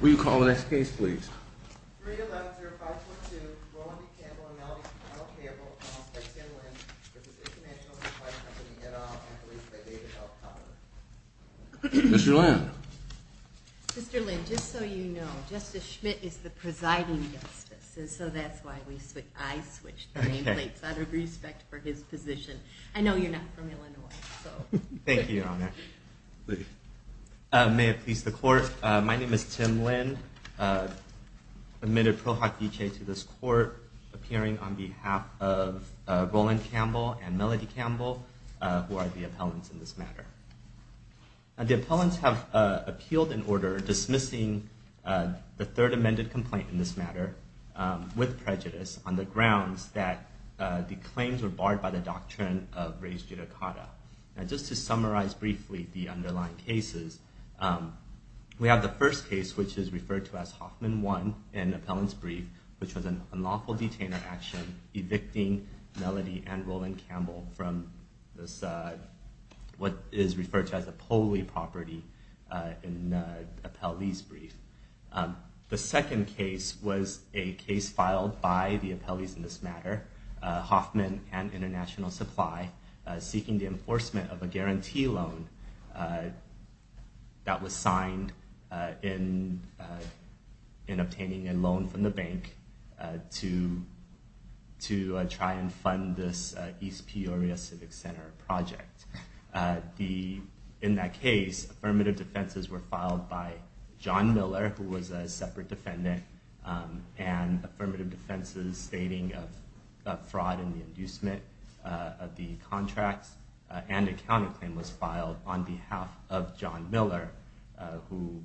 Will you call the next case please? Mr. Lynn. Mr. Lynn, just so you know, Justice Schmidt is the presiding justice, and so that's why I switched the nameplates out of respect for his position. I know you're not from Illinois. Thank you, Your Honor. May it please the Court, my name is Tim Lynn, admitted pro hoc vicee to this Court, appearing on behalf of Roland Campbell and Melody Campbell, who are the appellants in this matter. The appellants have appealed in order, dismissing the third amended complaint in this matter with prejudice on the grounds that the claims were barred by the doctrine of raised judicata. Now just to summarize briefly the underlying cases, we have the first case, which is referred to as Hoffman 1 in the appellant's brief, which was an unlawful detainer action evicting Melody and Roland Campbell from what is referred to as a poli property in the appellee's brief. The second case was a case filed by the appellees in this matter, Hoffman and International Supply, seeking the enforcement of a guarantee loan that was signed in obtaining a loan from the bank to try and fund this East Peoria Civic Center project. In that case, affirmative defenses were filed by John Miller, who was a separate defendant, and affirmative defenses stating a fraud in the inducement of the contracts, and a counterclaim was filed on behalf of John Miller, who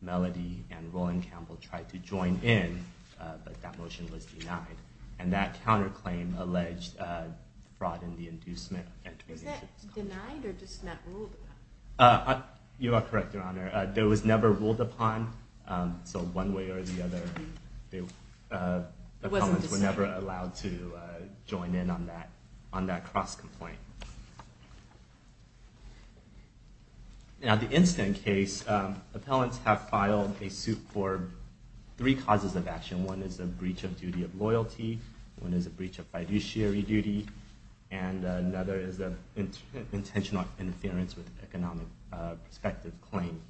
Melody and Roland Campbell tried to join in, but that motion was denied. And that counterclaim alleged fraud in the inducement. Was that denied or just not ruled upon? You are correct, Your Honor. It was never ruled upon. So one way or the other, the appellants were never allowed to join in on that cross-complaint. Now the instant case, appellants have filed a suit for three causes of action. One is a breach of duty of loyalty, one is a breach of fiduciary duty, and another is an intentional interference with economic perspective claim.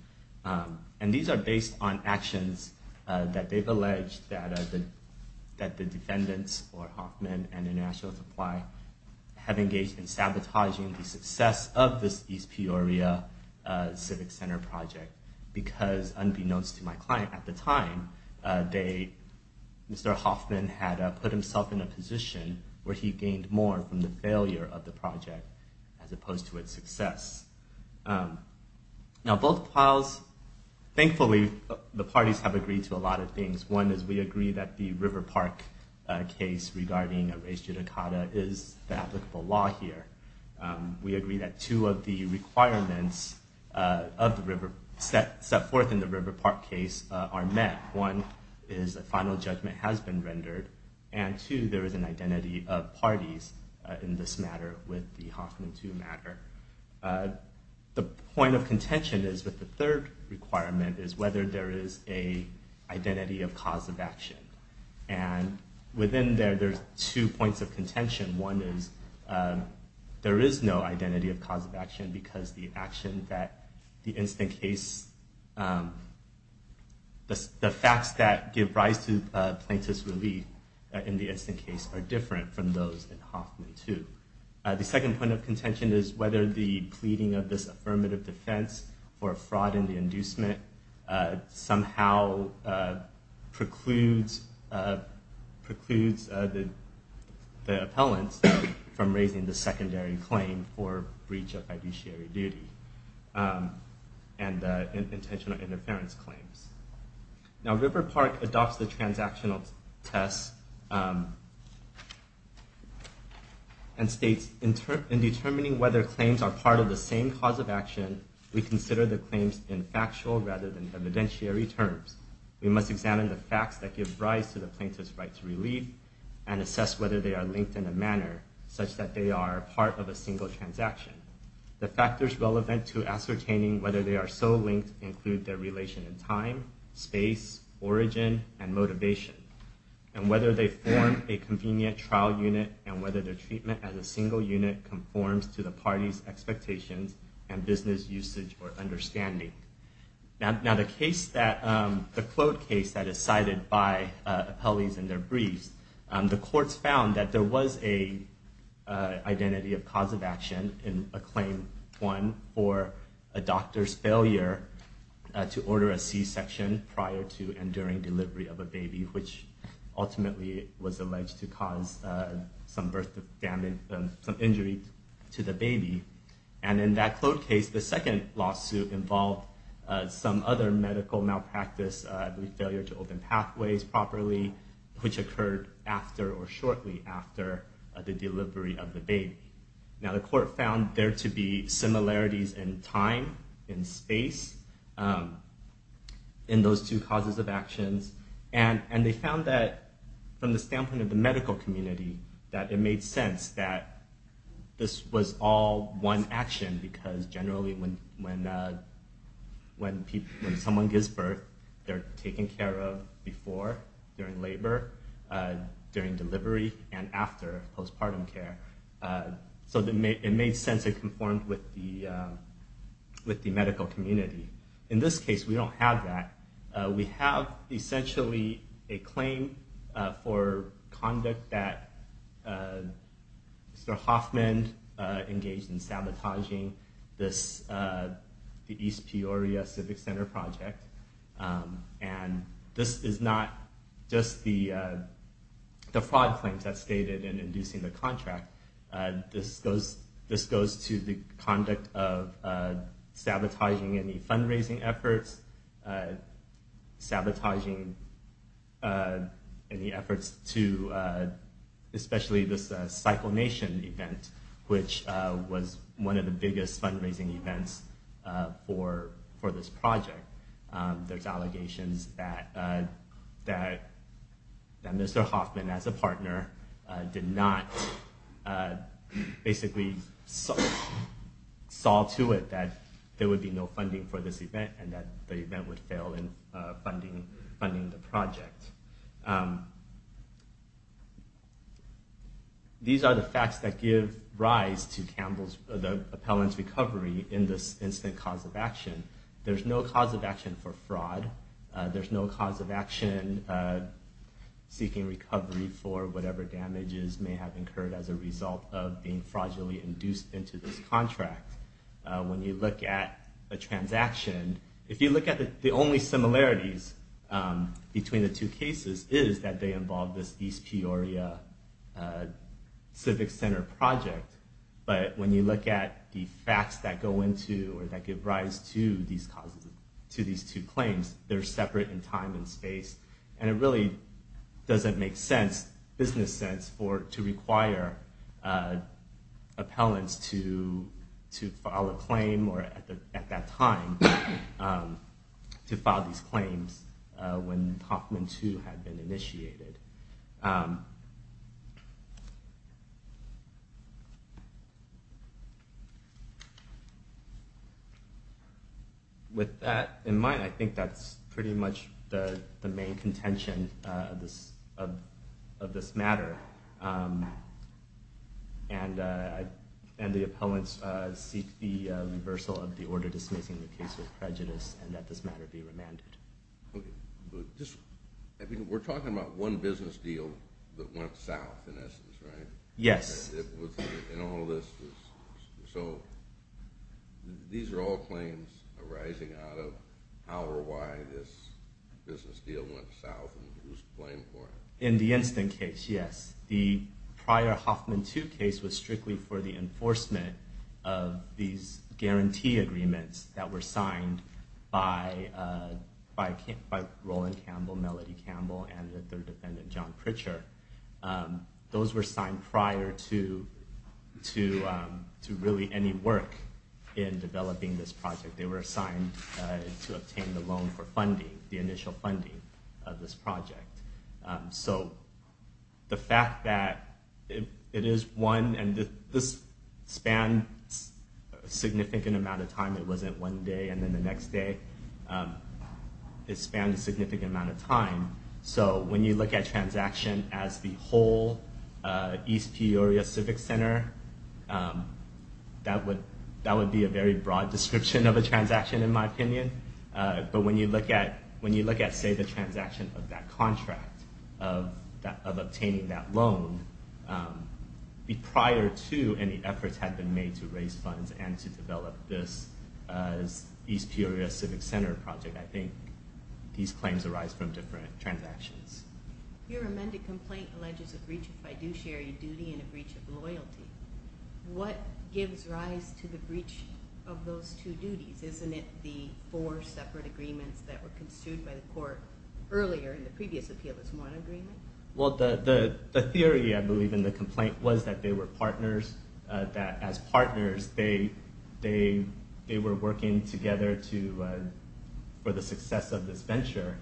And these are based on actions that they've alleged that the defendants, or Hoffman and International Supply, have engaged in sabotaging the success of this East Peoria Civic Center project. Because unbeknownst to my client at the time, Mr. Hoffman had put himself in a position where he gained more from the failure of the project as opposed to its success. Now both files, thankfully, the parties have agreed to a lot of things. One is we agree that the River Park case regarding a race judicata is the applicable law here. We agree that two of the requirements set forth in the River Park case are met. One is a final judgment has been rendered, and two, there is an identity of parties in this matter with the Hoffman II matter. The point of contention is that the third requirement is whether there is an identity of cause of action. And within there, there's two points of contention. One is there is no identity of cause of action because the action that the instant case, the facts that give rise to plaintiff's relief in the instant case are different from those in Hoffman II. The second point of contention is whether the pleading of this affirmative defense for fraud in the inducement somehow precludes the appellants from raising the secondary claim for breach of fiduciary duty and intentional interference claims. Now River Park adopts the transactional test and states, in determining whether claims are part of the same cause of action, we consider the claims in factual rather than evidentiary terms. We must examine the facts that give rise to the plaintiff's right to relief and assess whether they are linked in a manner such that they are part of a single transaction. The factors relevant to ascertaining whether they are so linked include their relation in time, space, origin, and motivation. And whether they form a convenient trial unit and whether their treatment as a single unit conforms to the party's expectations and business usage or understanding. Now the case that, the clode case that is cited by appellees in their briefs, the courts found that there was an identity of cause of action in a claim one for a doctor's failure to order a C-section prior to and during delivery of a baby, which ultimately was alleged to cause some birth damage, some injury to the baby. And in that clode case, the second lawsuit involved some other medical malpractice, failure to open pathways properly, which occurred after or shortly after the delivery of the baby. Now the court found there to be similarities in time, in space, in those two causes of actions. And they found that from the standpoint of the medical community, that it made sense that this was all one action because generally when someone gives birth, they're taken care of before, during labor, during delivery, and after postpartum care. So it made sense it conformed with the medical community. In this case, we don't have that. We have essentially a claim for conduct that Mr. Hoffman engaged in sabotaging the East Peoria Civic Center project. And this is not just the fraud claims that's stated in inducing the contract. This goes to the conduct of sabotaging any fundraising efforts, sabotaging any efforts to especially this CycleNation event, which was one of the biggest fundraising events for this project. There's allegations that Mr. Hoffman, as a partner, did not basically saw to it that there would be no funding for this event, and that the event would fail in funding the project. These are the facts that give rise to the appellant's recovery in this instant cause of action. There's no cause of action for fraud. There's no cause of action seeking recovery for whatever damages may have occurred as a result of being fraudulently induced into this contract. When you look at a transaction, if you look at the only similarities between the two cases is that they involve this East Peoria Civic Center project. But when you look at the facts that go into or that give rise to these two claims, they're separate in time and space. And it really doesn't make sense, business sense, to require appellants to file a claim or at that time to file these claims when Hoffman 2 had been initiated. With that in mind, I think that's pretty much the main contention of this matter. And the appellants seek the reversal of the order dismissing the case with prejudice and that this matter be remanded. We're talking about one business deal that went south, in essence, right? Yes. So these are all claims arising out of however why this business deal went south and who's to blame for it? In the instant case, yes. The prior Hoffman 2 case was strictly for the enforcement of these guarantee agreements that were signed by Roland Campbell, Melody Campbell, and the third defendant, John Pritchard. Those were signed prior to really any work in developing this project. They were assigned to obtain the loan for funding, the initial funding of this project. So the fact that it is one and this spans a significant amount of time. It wasn't one day and then the next day. It spans a significant amount of time. So when you look at transaction as the whole East Peoria Civic Center, that would be a very broad description of a transaction in my opinion. But when you look at, say, the transaction of that contract, of obtaining that loan, prior to any efforts had been made to raise funds and to develop this as East Peoria Civic Center project, I think these claims arise from different transactions. Your amended complaint alleges a breach of fiduciary duty and a breach of loyalty. What gives rise to the breach of those two duties? Isn't it the four separate agreements that were construed by the court earlier in the previous appeal as one agreement? Well, the theory I believe in the complaint was that they were partners. That as partners, they were working together for the success of this venture.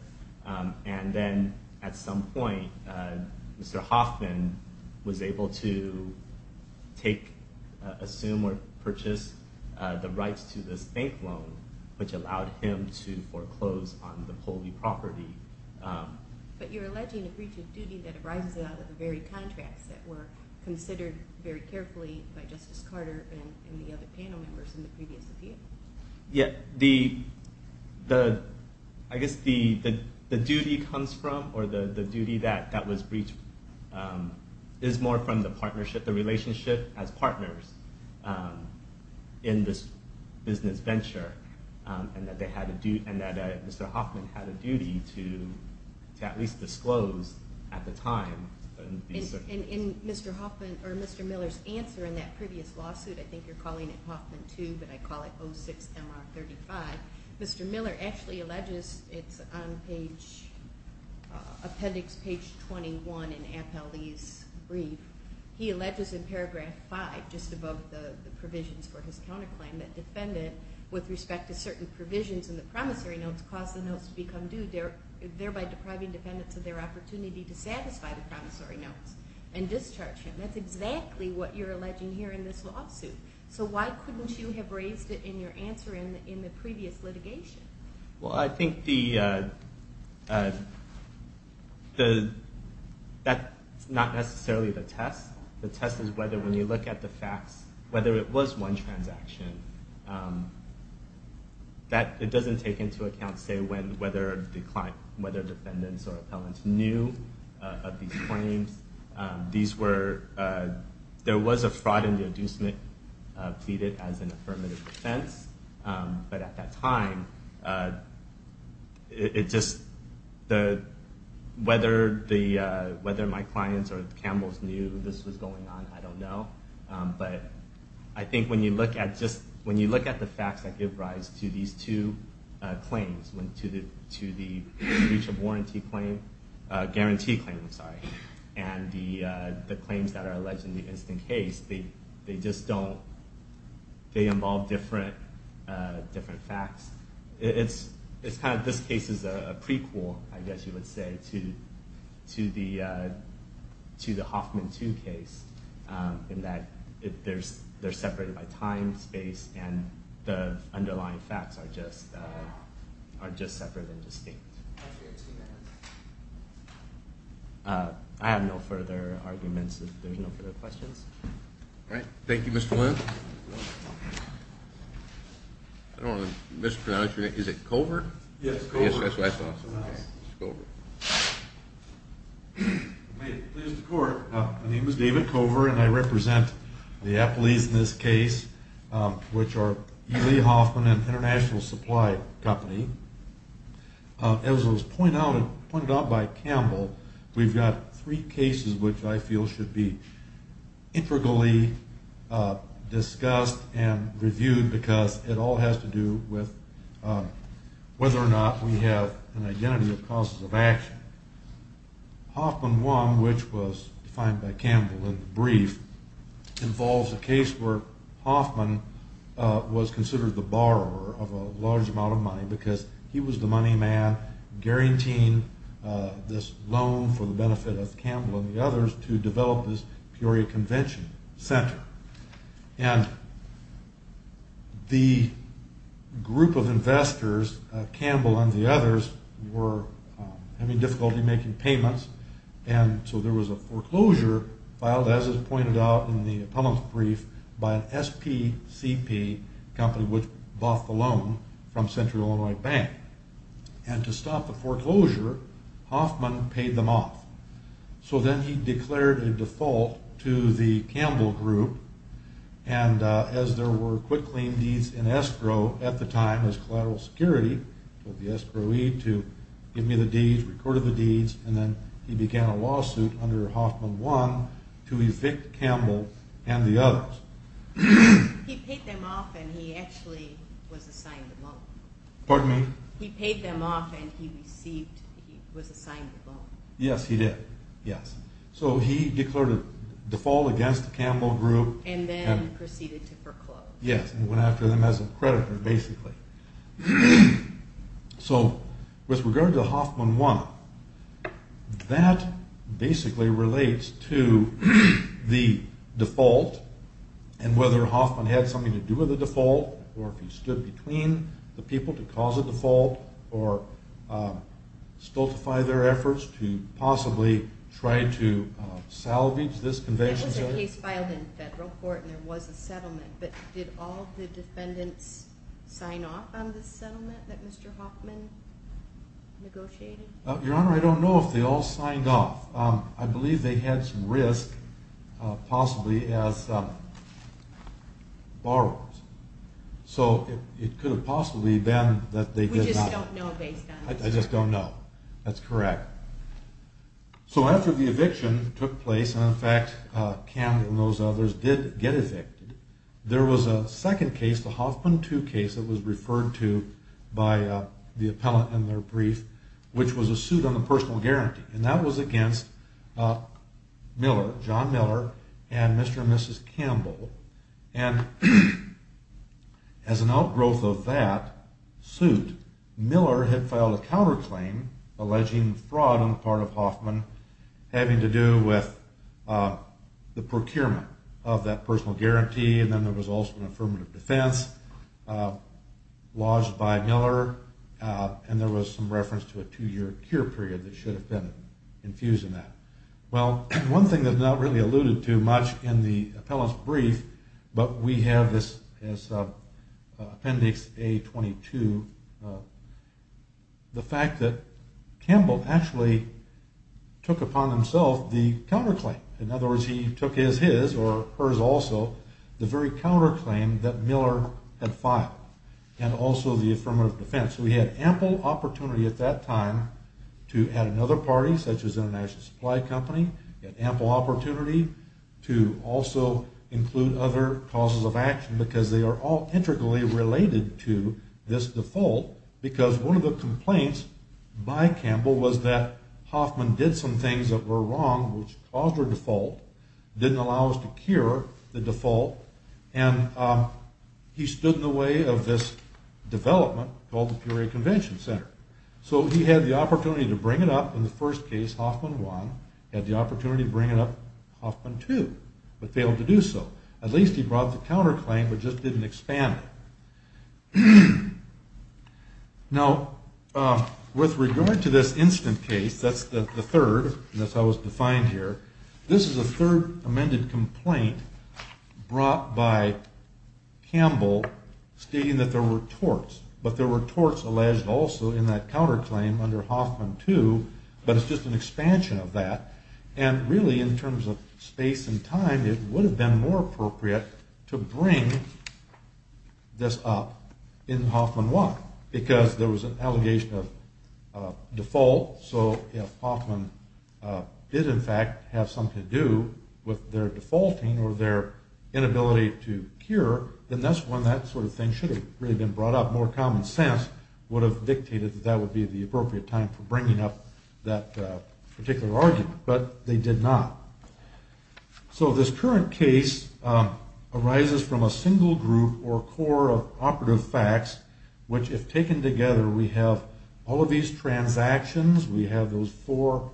And then at some point, Mr. Hoffman was able to take, assume, or purchase the rights to this bank loan, which allowed him to foreclose on the Povey property. But you're alleging a breach of duty that arises out of the very contracts that were considered very carefully by Justice Carter and the other panel members in the previous appeal. Yeah, I guess the duty comes from, or the duty that was breached is more from the partnership, the relationship as partners in this business venture. And that Mr. Hoffman had a duty to at least disclose at the time. In Mr. Hoffman, or Mr. Miller's answer in that previous lawsuit, I think you're calling it Hoffman 2, but I call it 06-MR-35, Mr. Miller actually alleges, it's on appendix page 21 in Appellee's brief, he alleges in paragraph 5, just above the provisions for his counterclaim, that defendant, with respect to certain provisions in the promissory notes, caused the notes to become due, thereby depriving defendants of their opportunity to satisfy the promissory notes and discharge him. That's exactly what you're alleging here in this lawsuit. So why couldn't you have raised it in your answer in the previous litigation? Well, I think that's not necessarily the test. The test is whether, when you look at the facts, whether it was one transaction. It doesn't take into account, say, whether defendants or appellants knew of these claims. There was a fraud in the adducement, pleaded as an affirmative defense. But at that time, whether my clients or Campbell's knew this was going on, I don't know. But I think when you look at the facts that give rise to these two claims, to the breach of warranty claim, guarantee claim, I'm sorry, and the claims that are alleged in the instant case, they involve different facts. This case is a prequel, I guess you would say, to the Hoffman 2 case, in that they're separated by time, space, and the underlying facts are just separate and distinct. I have no further arguments if there's no further questions. All right. Thank you, Mr. Lin. I don't want to mispronounce your name. Is it Covert? Yes, Covert. Yes, that's what I thought. May it please the Court, my name is David Covert, and I represent the appellees in this case, which are E. Lee Hoffman and International Supply Company. As was pointed out by Campbell, we've got three cases which I feel should be integrally discussed and reviewed because it all has to do with whether or not we have an identity of causes of action. Hoffman 1, which was defined by Campbell in the brief, involves a case where Hoffman was considered the borrower of a large amount of money because he was the money man guaranteeing this loan for the benefit of Campbell and the others to develop this Peoria Convention Center. And the group of investors, Campbell and the others, were having difficulty making payments, and so there was a foreclosure filed, as is pointed out in the appellant's brief, by an SPCP company which bought the loan from Central Illinois Bank. And to stop the foreclosure, Hoffman paid them off. So then he declared a default to the Campbell group, and as there were quick claim deeds in escrow at the time as collateral security, told the escrow aide to give me the deeds, recorded the deeds, and then he began a lawsuit under Hoffman 1 to evict Campbell and the others. He paid them off and he actually was assigned the loan. Pardon me? He paid them off and he received, he was assigned the loan. Yes, he did. Yes. So he declared a default against the Campbell group. And then proceeded to foreclose. Yes, and went after them as a creditor, basically. So with regard to Hoffman 1, that basically relates to the default and whether Hoffman had something to do with the default or if he stood between the people to cause a default or stultify their efforts to possibly try to salvage this convention center. There was a case filed in federal court and there was a settlement, but did all the defendants sign off on the settlement that Mr. Hoffman negotiated? Your Honor, I don't know if they all signed off. I believe they had some risk possibly as borrowers. So it could have possibly been that they did not. We just don't know based on this. I just don't know. That's correct. So after the eviction took place, and in fact Campbell and those others did get evicted, there was a second case, the Hoffman 2 case that was referred to by the appellant in their brief, which was a suit on the personal guarantee. And that was against Miller, John Miller and Mr. and Mrs. Campbell. And as an outgrowth of that suit, Miller had filed a counterclaim alleging fraud on the part of Hoffman having to do with the procurement of that personal guarantee and then there was also an affirmative defense lodged by Miller and there was some reference to a two-year cure period that should have been infused in that. Well, one thing that's not really alluded to much in the appellant's brief, but we have this as Appendix A-22, the fact that Campbell actually took upon himself the counterclaim. In other words, he took as his, or hers also, the very counterclaim that Miller had filed and also the affirmative defense. So he had ample opportunity at that time to add another party, such as International Supply Company. He had ample opportunity to also include other causes of action because they are all integrally related to this default because one of the complaints by Campbell was that Hoffman did some things that were wrong, which caused her default, didn't allow us to cure the default, and he stood in the way of this development called the Peoria Convention Center. So he had the opportunity to bring it up in the first case, Hoffman 1, he had the opportunity to bring it up in Hoffman 2, but failed to do so. At least he brought the counterclaim, but just didn't expand it. Now, with regard to this instant case, that's the third, and that's how it was defined here, this is a third amended complaint brought by Campbell stating that there were torts, but there were torts alleged also in that counterclaim under Hoffman 2, but it's just an expansion of that, and really in terms of space and time, it would have been more appropriate to bring this up in Hoffman 1 because there was an allegation of default, so if Hoffman did in fact have something to do with their defaulting or their inability to cure, then that's when that sort of thing should have really been brought up, more common sense would have dictated that that would be the appropriate time for bringing up that particular argument, but they did not. So this current case arises from a single group or core of operative facts, which if taken together, we have all of these transactions, we have those four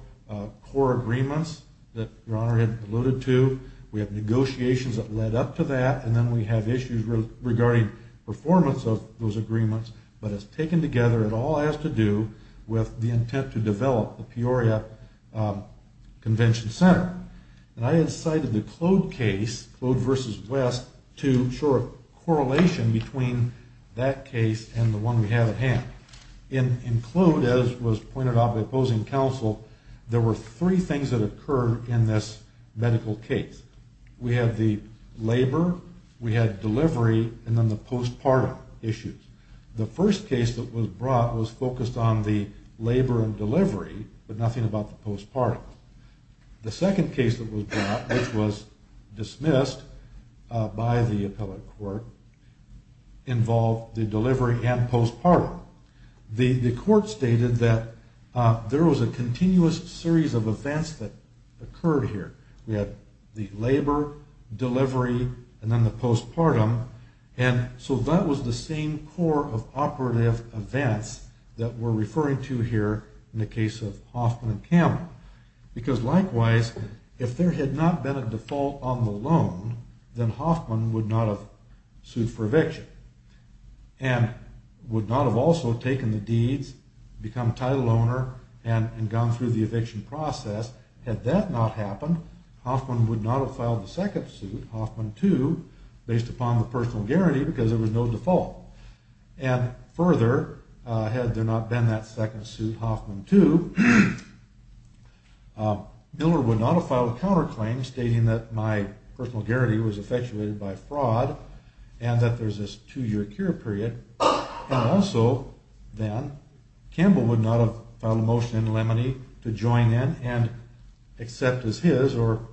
core agreements that Your Honor alluded to, we have negotiations that led up to that, and then we have issues regarding performance of those agreements, but it's taken together, it all has to do with the intent to develop the Peoria Convention Center. And I incited the Claude case, Claude v. West, to show a correlation between that case and the one we have at hand. In Claude, as was pointed out by opposing counsel, there were three things that occurred in this medical case. We had the labor, we had delivery, and then the postpartum issues. The first case that was brought was focused on the labor and delivery, but nothing about the postpartum. The second case that was brought, which was dismissed by the appellate court, involved the delivery and postpartum. The court stated that there was a continuous series of events that occurred here. We had the labor, delivery, and then the postpartum, and so that was the same core of operative events that we're referring to here in the case of Hoffman and Kammerer. Because likewise, if there had not been a default on the loan, then Hoffman would not have sued for eviction, and would not have also taken the deeds, become title owner, and gone through the eviction process. Had that not happened, Hoffman would not have filed the second suit, Hoffman 2, based upon the personal guarantee because there was no default. And further, had there not been that second suit, Hoffman 2, Miller would not have filed a counterclaim stating that my personal guarantee was effectuated by fraud, and that there's this two-year cure period. And also, then, Campbell would not have filed a motion in Lemony to join in and accept as his, or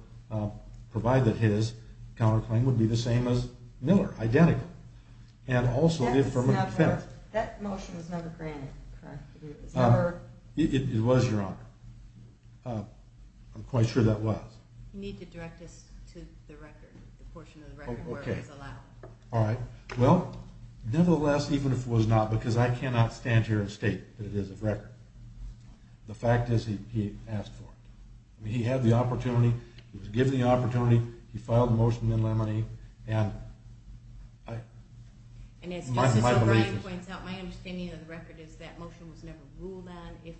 provide that his counterclaim would be the same as Miller, identical, and also the affirmative defense. That motion was never granted, correct? It was, Your Honor. I'm quite sure that was. You need to direct us to the record, the portion of the record where it was allowed. All right. Well, nevertheless, even if it was not, because I cannot stand here and state that it is a record. The fact is he asked for it. He had the opportunity, he was given the opportunity, he filed the motion in Lemony, and I... And as Justice O'Brien points out, my understanding of the record is that motion was never ruled on. If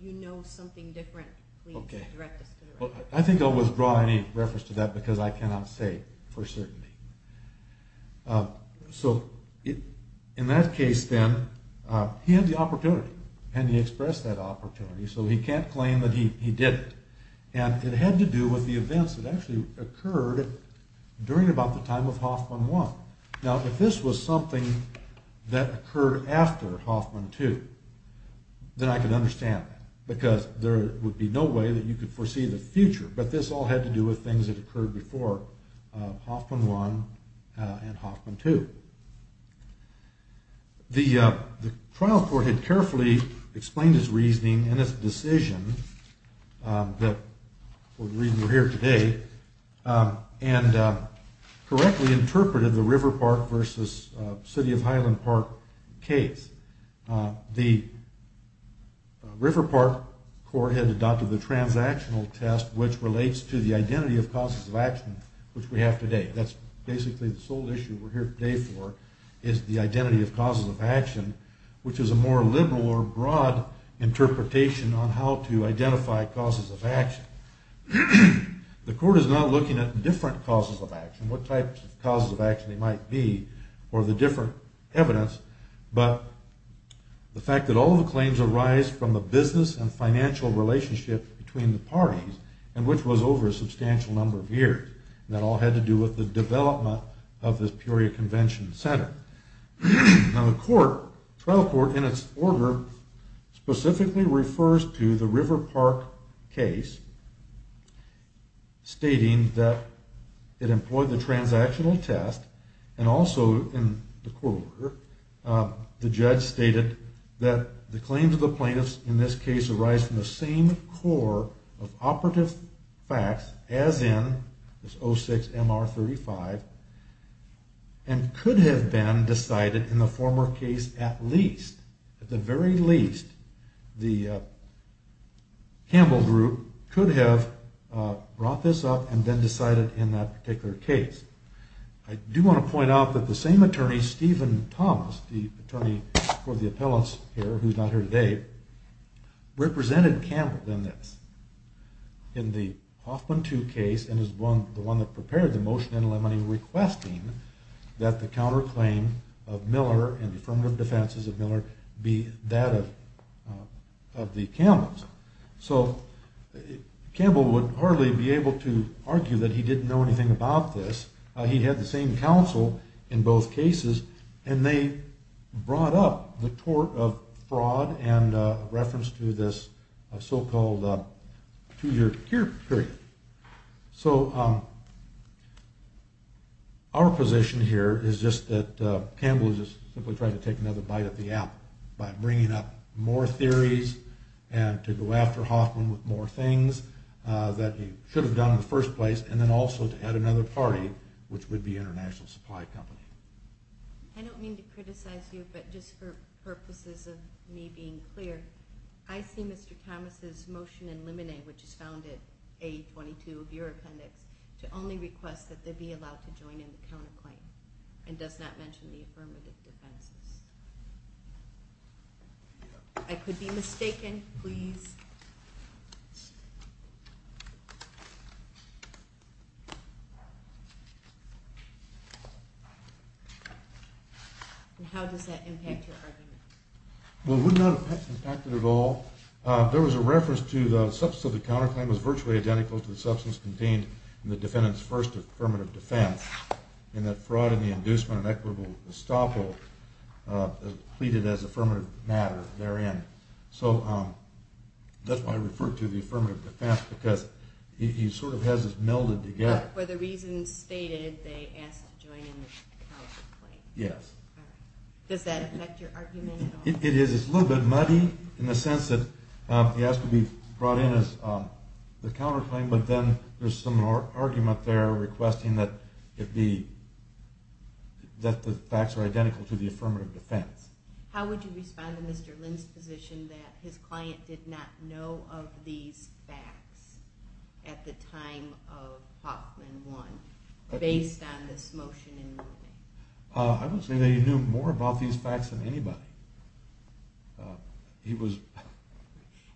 you know something different, please direct us to the record. I think I'll withdraw any reference to that, because I cannot say for certainty. So, in that case, then, he had the opportunity, and he expressed that opportunity, so he can't claim that he did it. And it had to do with the events that actually occurred during about the time of Hoffman 1. Now, if this was something that occurred after Hoffman 2, then I could understand that, because there would be no way that you could foresee the future. But this all had to do with things that occurred before Hoffman 1 and Hoffman 2. The trial court had carefully explained its reasoning and its decision that, for the reason we're here today, and correctly interpreted the River Park versus City of Highland Park case. The River Park court had adopted the transactional test, which relates to the identity of causes of action, which we have today. That's basically the sole issue we're here today for, is the identity of causes of action, which is a more liberal or broad interpretation on how to identify causes of action. The court is not looking at different causes of action, what types of causes of action they might be, or the different evidence, but the fact that all the claims arise from the business and financial relationship between the parties, and which was over a substantial number of years. And that all had to do with the development of this Peoria Convention Center. Now, the trial court, in its order, specifically refers to the River Park case, stating that it employed the transactional test, and also in the court order, the judge stated that the claims of the plaintiffs in this case arise from the same core of operative facts as in this 06-MR-35, and could have been decided in the former case at least, at the very least, the Campbell group could have brought this up and then decided in that particular case. I do want to point out that the same attorney, Stephen Thomas, the attorney for the appellants here, who's not here today, represented Campbell in this, in the Hoffman II case, and is the one that prepared the motion in Lemony, requesting that the counterclaim of Miller and the affirmative defenses of Miller be that of the Campbells. So, Campbell would hardly be able to argue that he didn't know anything about this. He had the same counsel in both cases, and they brought up the tort of fraud and reference to this so-called two-year period. So, our position here is just that Campbell is just simply trying to take another bite at the app by bringing up more theories and to go after Hoffman with more things that he should have done in the first place, and then also to add another party, which would be International Supply Company. I don't mean to criticize you, but just for purposes of me being clear, I see Mr. Thomas' motion in Lemony, which is found in A22 of your appendix, to only request that they be allowed to join in the counterclaim and does not mention the affirmative defenses. I could be mistaken. Please. How does that impact your argument? Well, it would not impact it at all. There was a reference to the substance of the counterclaim was virtually identical to the substance contained in the defendant's first affirmative defense in that fraud and the inducement of equitable estoppel pleaded as affirmative matter therein. So, that's why I referred to the affirmative defense, because he sort of has it melded together. But for the reasons stated, they asked to join in the counterclaim. Yes. All right. Does that affect your argument at all? It is. It's a little bit muddy in the sense that he asked to be brought in as the counterclaim, but then there's some argument there requesting that the facts are identical to the affirmative defense. How would you respond to Mr. Lind's position that his client did not know of these facts at the time of Hoffman 1, based on this motion in Lemony? I would say that he knew more about these facts than anybody.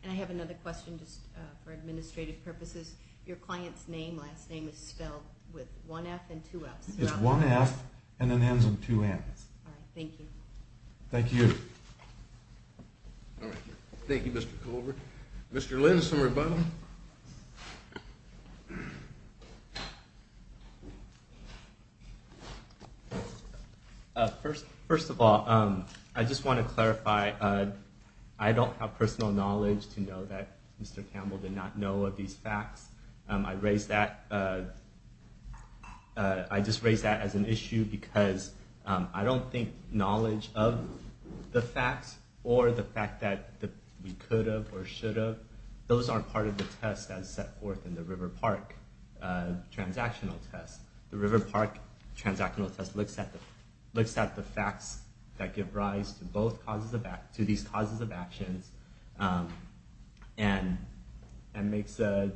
And I have another question just for administrative purposes. Your client's name, last name, is spelled with one F and two F's. It's one F and an N's and two N's. All right. Thank you. Thank you. All right. Thank you, Mr. Colbert. Mr. Lind, some rebuttal. First of all, I just want to clarify, I don't have personal knowledge to know that Mr. Campbell did not know of these facts. I just raise that as an issue because I don't think knowledge of the facts or the fact that we could have or should have, those aren't part of the test that's set forth in the River Park transactional test. The River Park transactional test looks at the facts that give rise to these causes of actions and makes a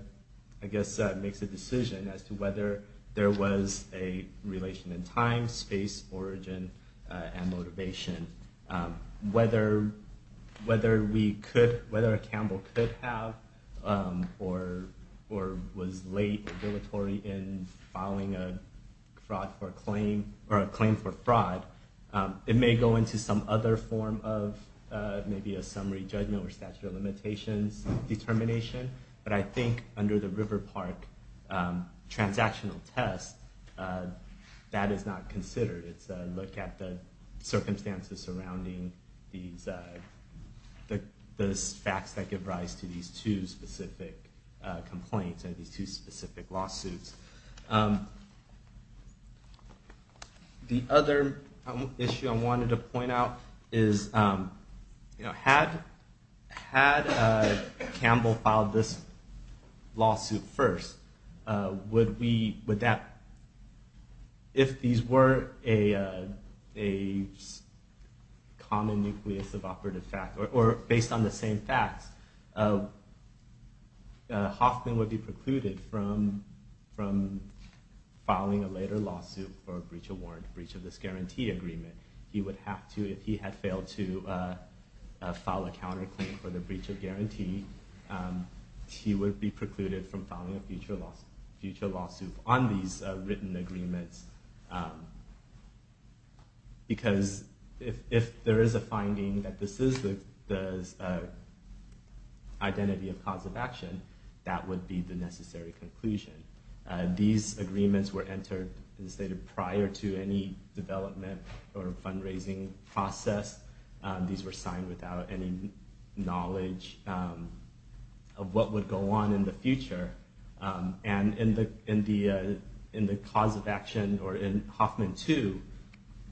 decision as to whether there was a relation in time, space, origin, and motivation. Whether we could, whether Campbell could have or was late in filing a claim for fraud, it may go into some other form of maybe a summary judgment or statute of limitations determination, but I think under the River Park transactional test, that is not considered. It's a look at the circumstances surrounding the facts that give rise to these two specific complaints, these two specific lawsuits. The other issue I wanted to point out is, had Campbell filed this lawsuit first, would that, if these were a common nucleus of operative facts, or based on the same facts, Hoffman would be precluded from filing a later lawsuit for a breach of warrant, breach of this guarantee agreement. He would have to, if he had failed to file a counterclaim for the breach of guarantee, he would be precluded from filing a future lawsuit on these written agreements. Because if there is a finding that this is the identity of cause of action, that would be the necessary conclusion. These agreements were entered, as stated, prior to any development or fundraising process. These were signed without any knowledge of what would go on in the future. And in the cause of action, or in Hoffman 2,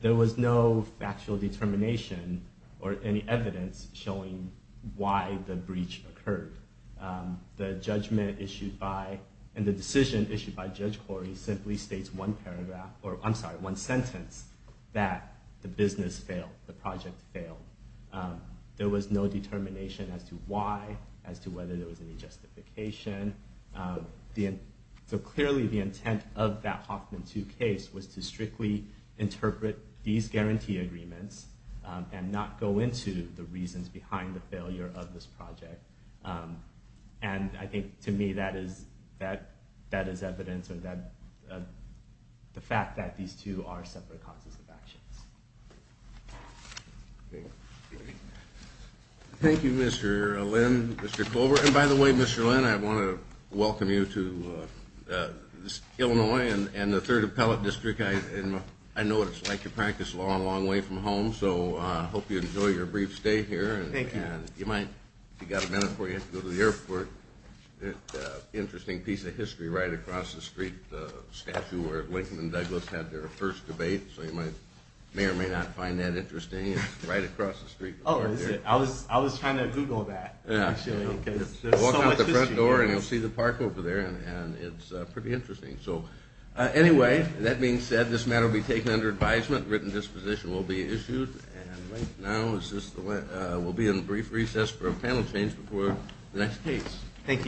there was no factual determination or any evidence showing why the breach occurred. The judgment issued by, and the decision issued by Judge Corey simply states one paragraph, or I'm sorry, one sentence, that the business failed, the project failed. There was no determination as to why, as to whether there was any justification. So clearly the intent of that Hoffman 2 case was to strictly interpret these guarantee agreements and not go into the reasons behind the failure of this project. And I think, to me, that is evidence of the fact that these two are separate causes of actions. Thank you, Mr. Lynn, Mr. Colbert. And by the way, Mr. Lynn, I want to welcome you to Illinois and the Third Appellate District. I know what it's like to practice law a long way from home, so I hope you enjoy your brief stay here. Thank you. And if you got a minute before you have to go to the airport, there's an interesting piece of history right across the street, the statue where Lincoln and Douglas had their first debate. So you may or may not find that interesting. It's right across the street. Oh, is it? I was trying to Google that, actually, because there's so much history here. Walk out the front door and you'll see the park over there, and it's pretty interesting. So anyway, that being said, this matter will be taken under advisement. A written disposition will be issued. And right now we'll be in brief recess for a panel change before the next case. Thank you.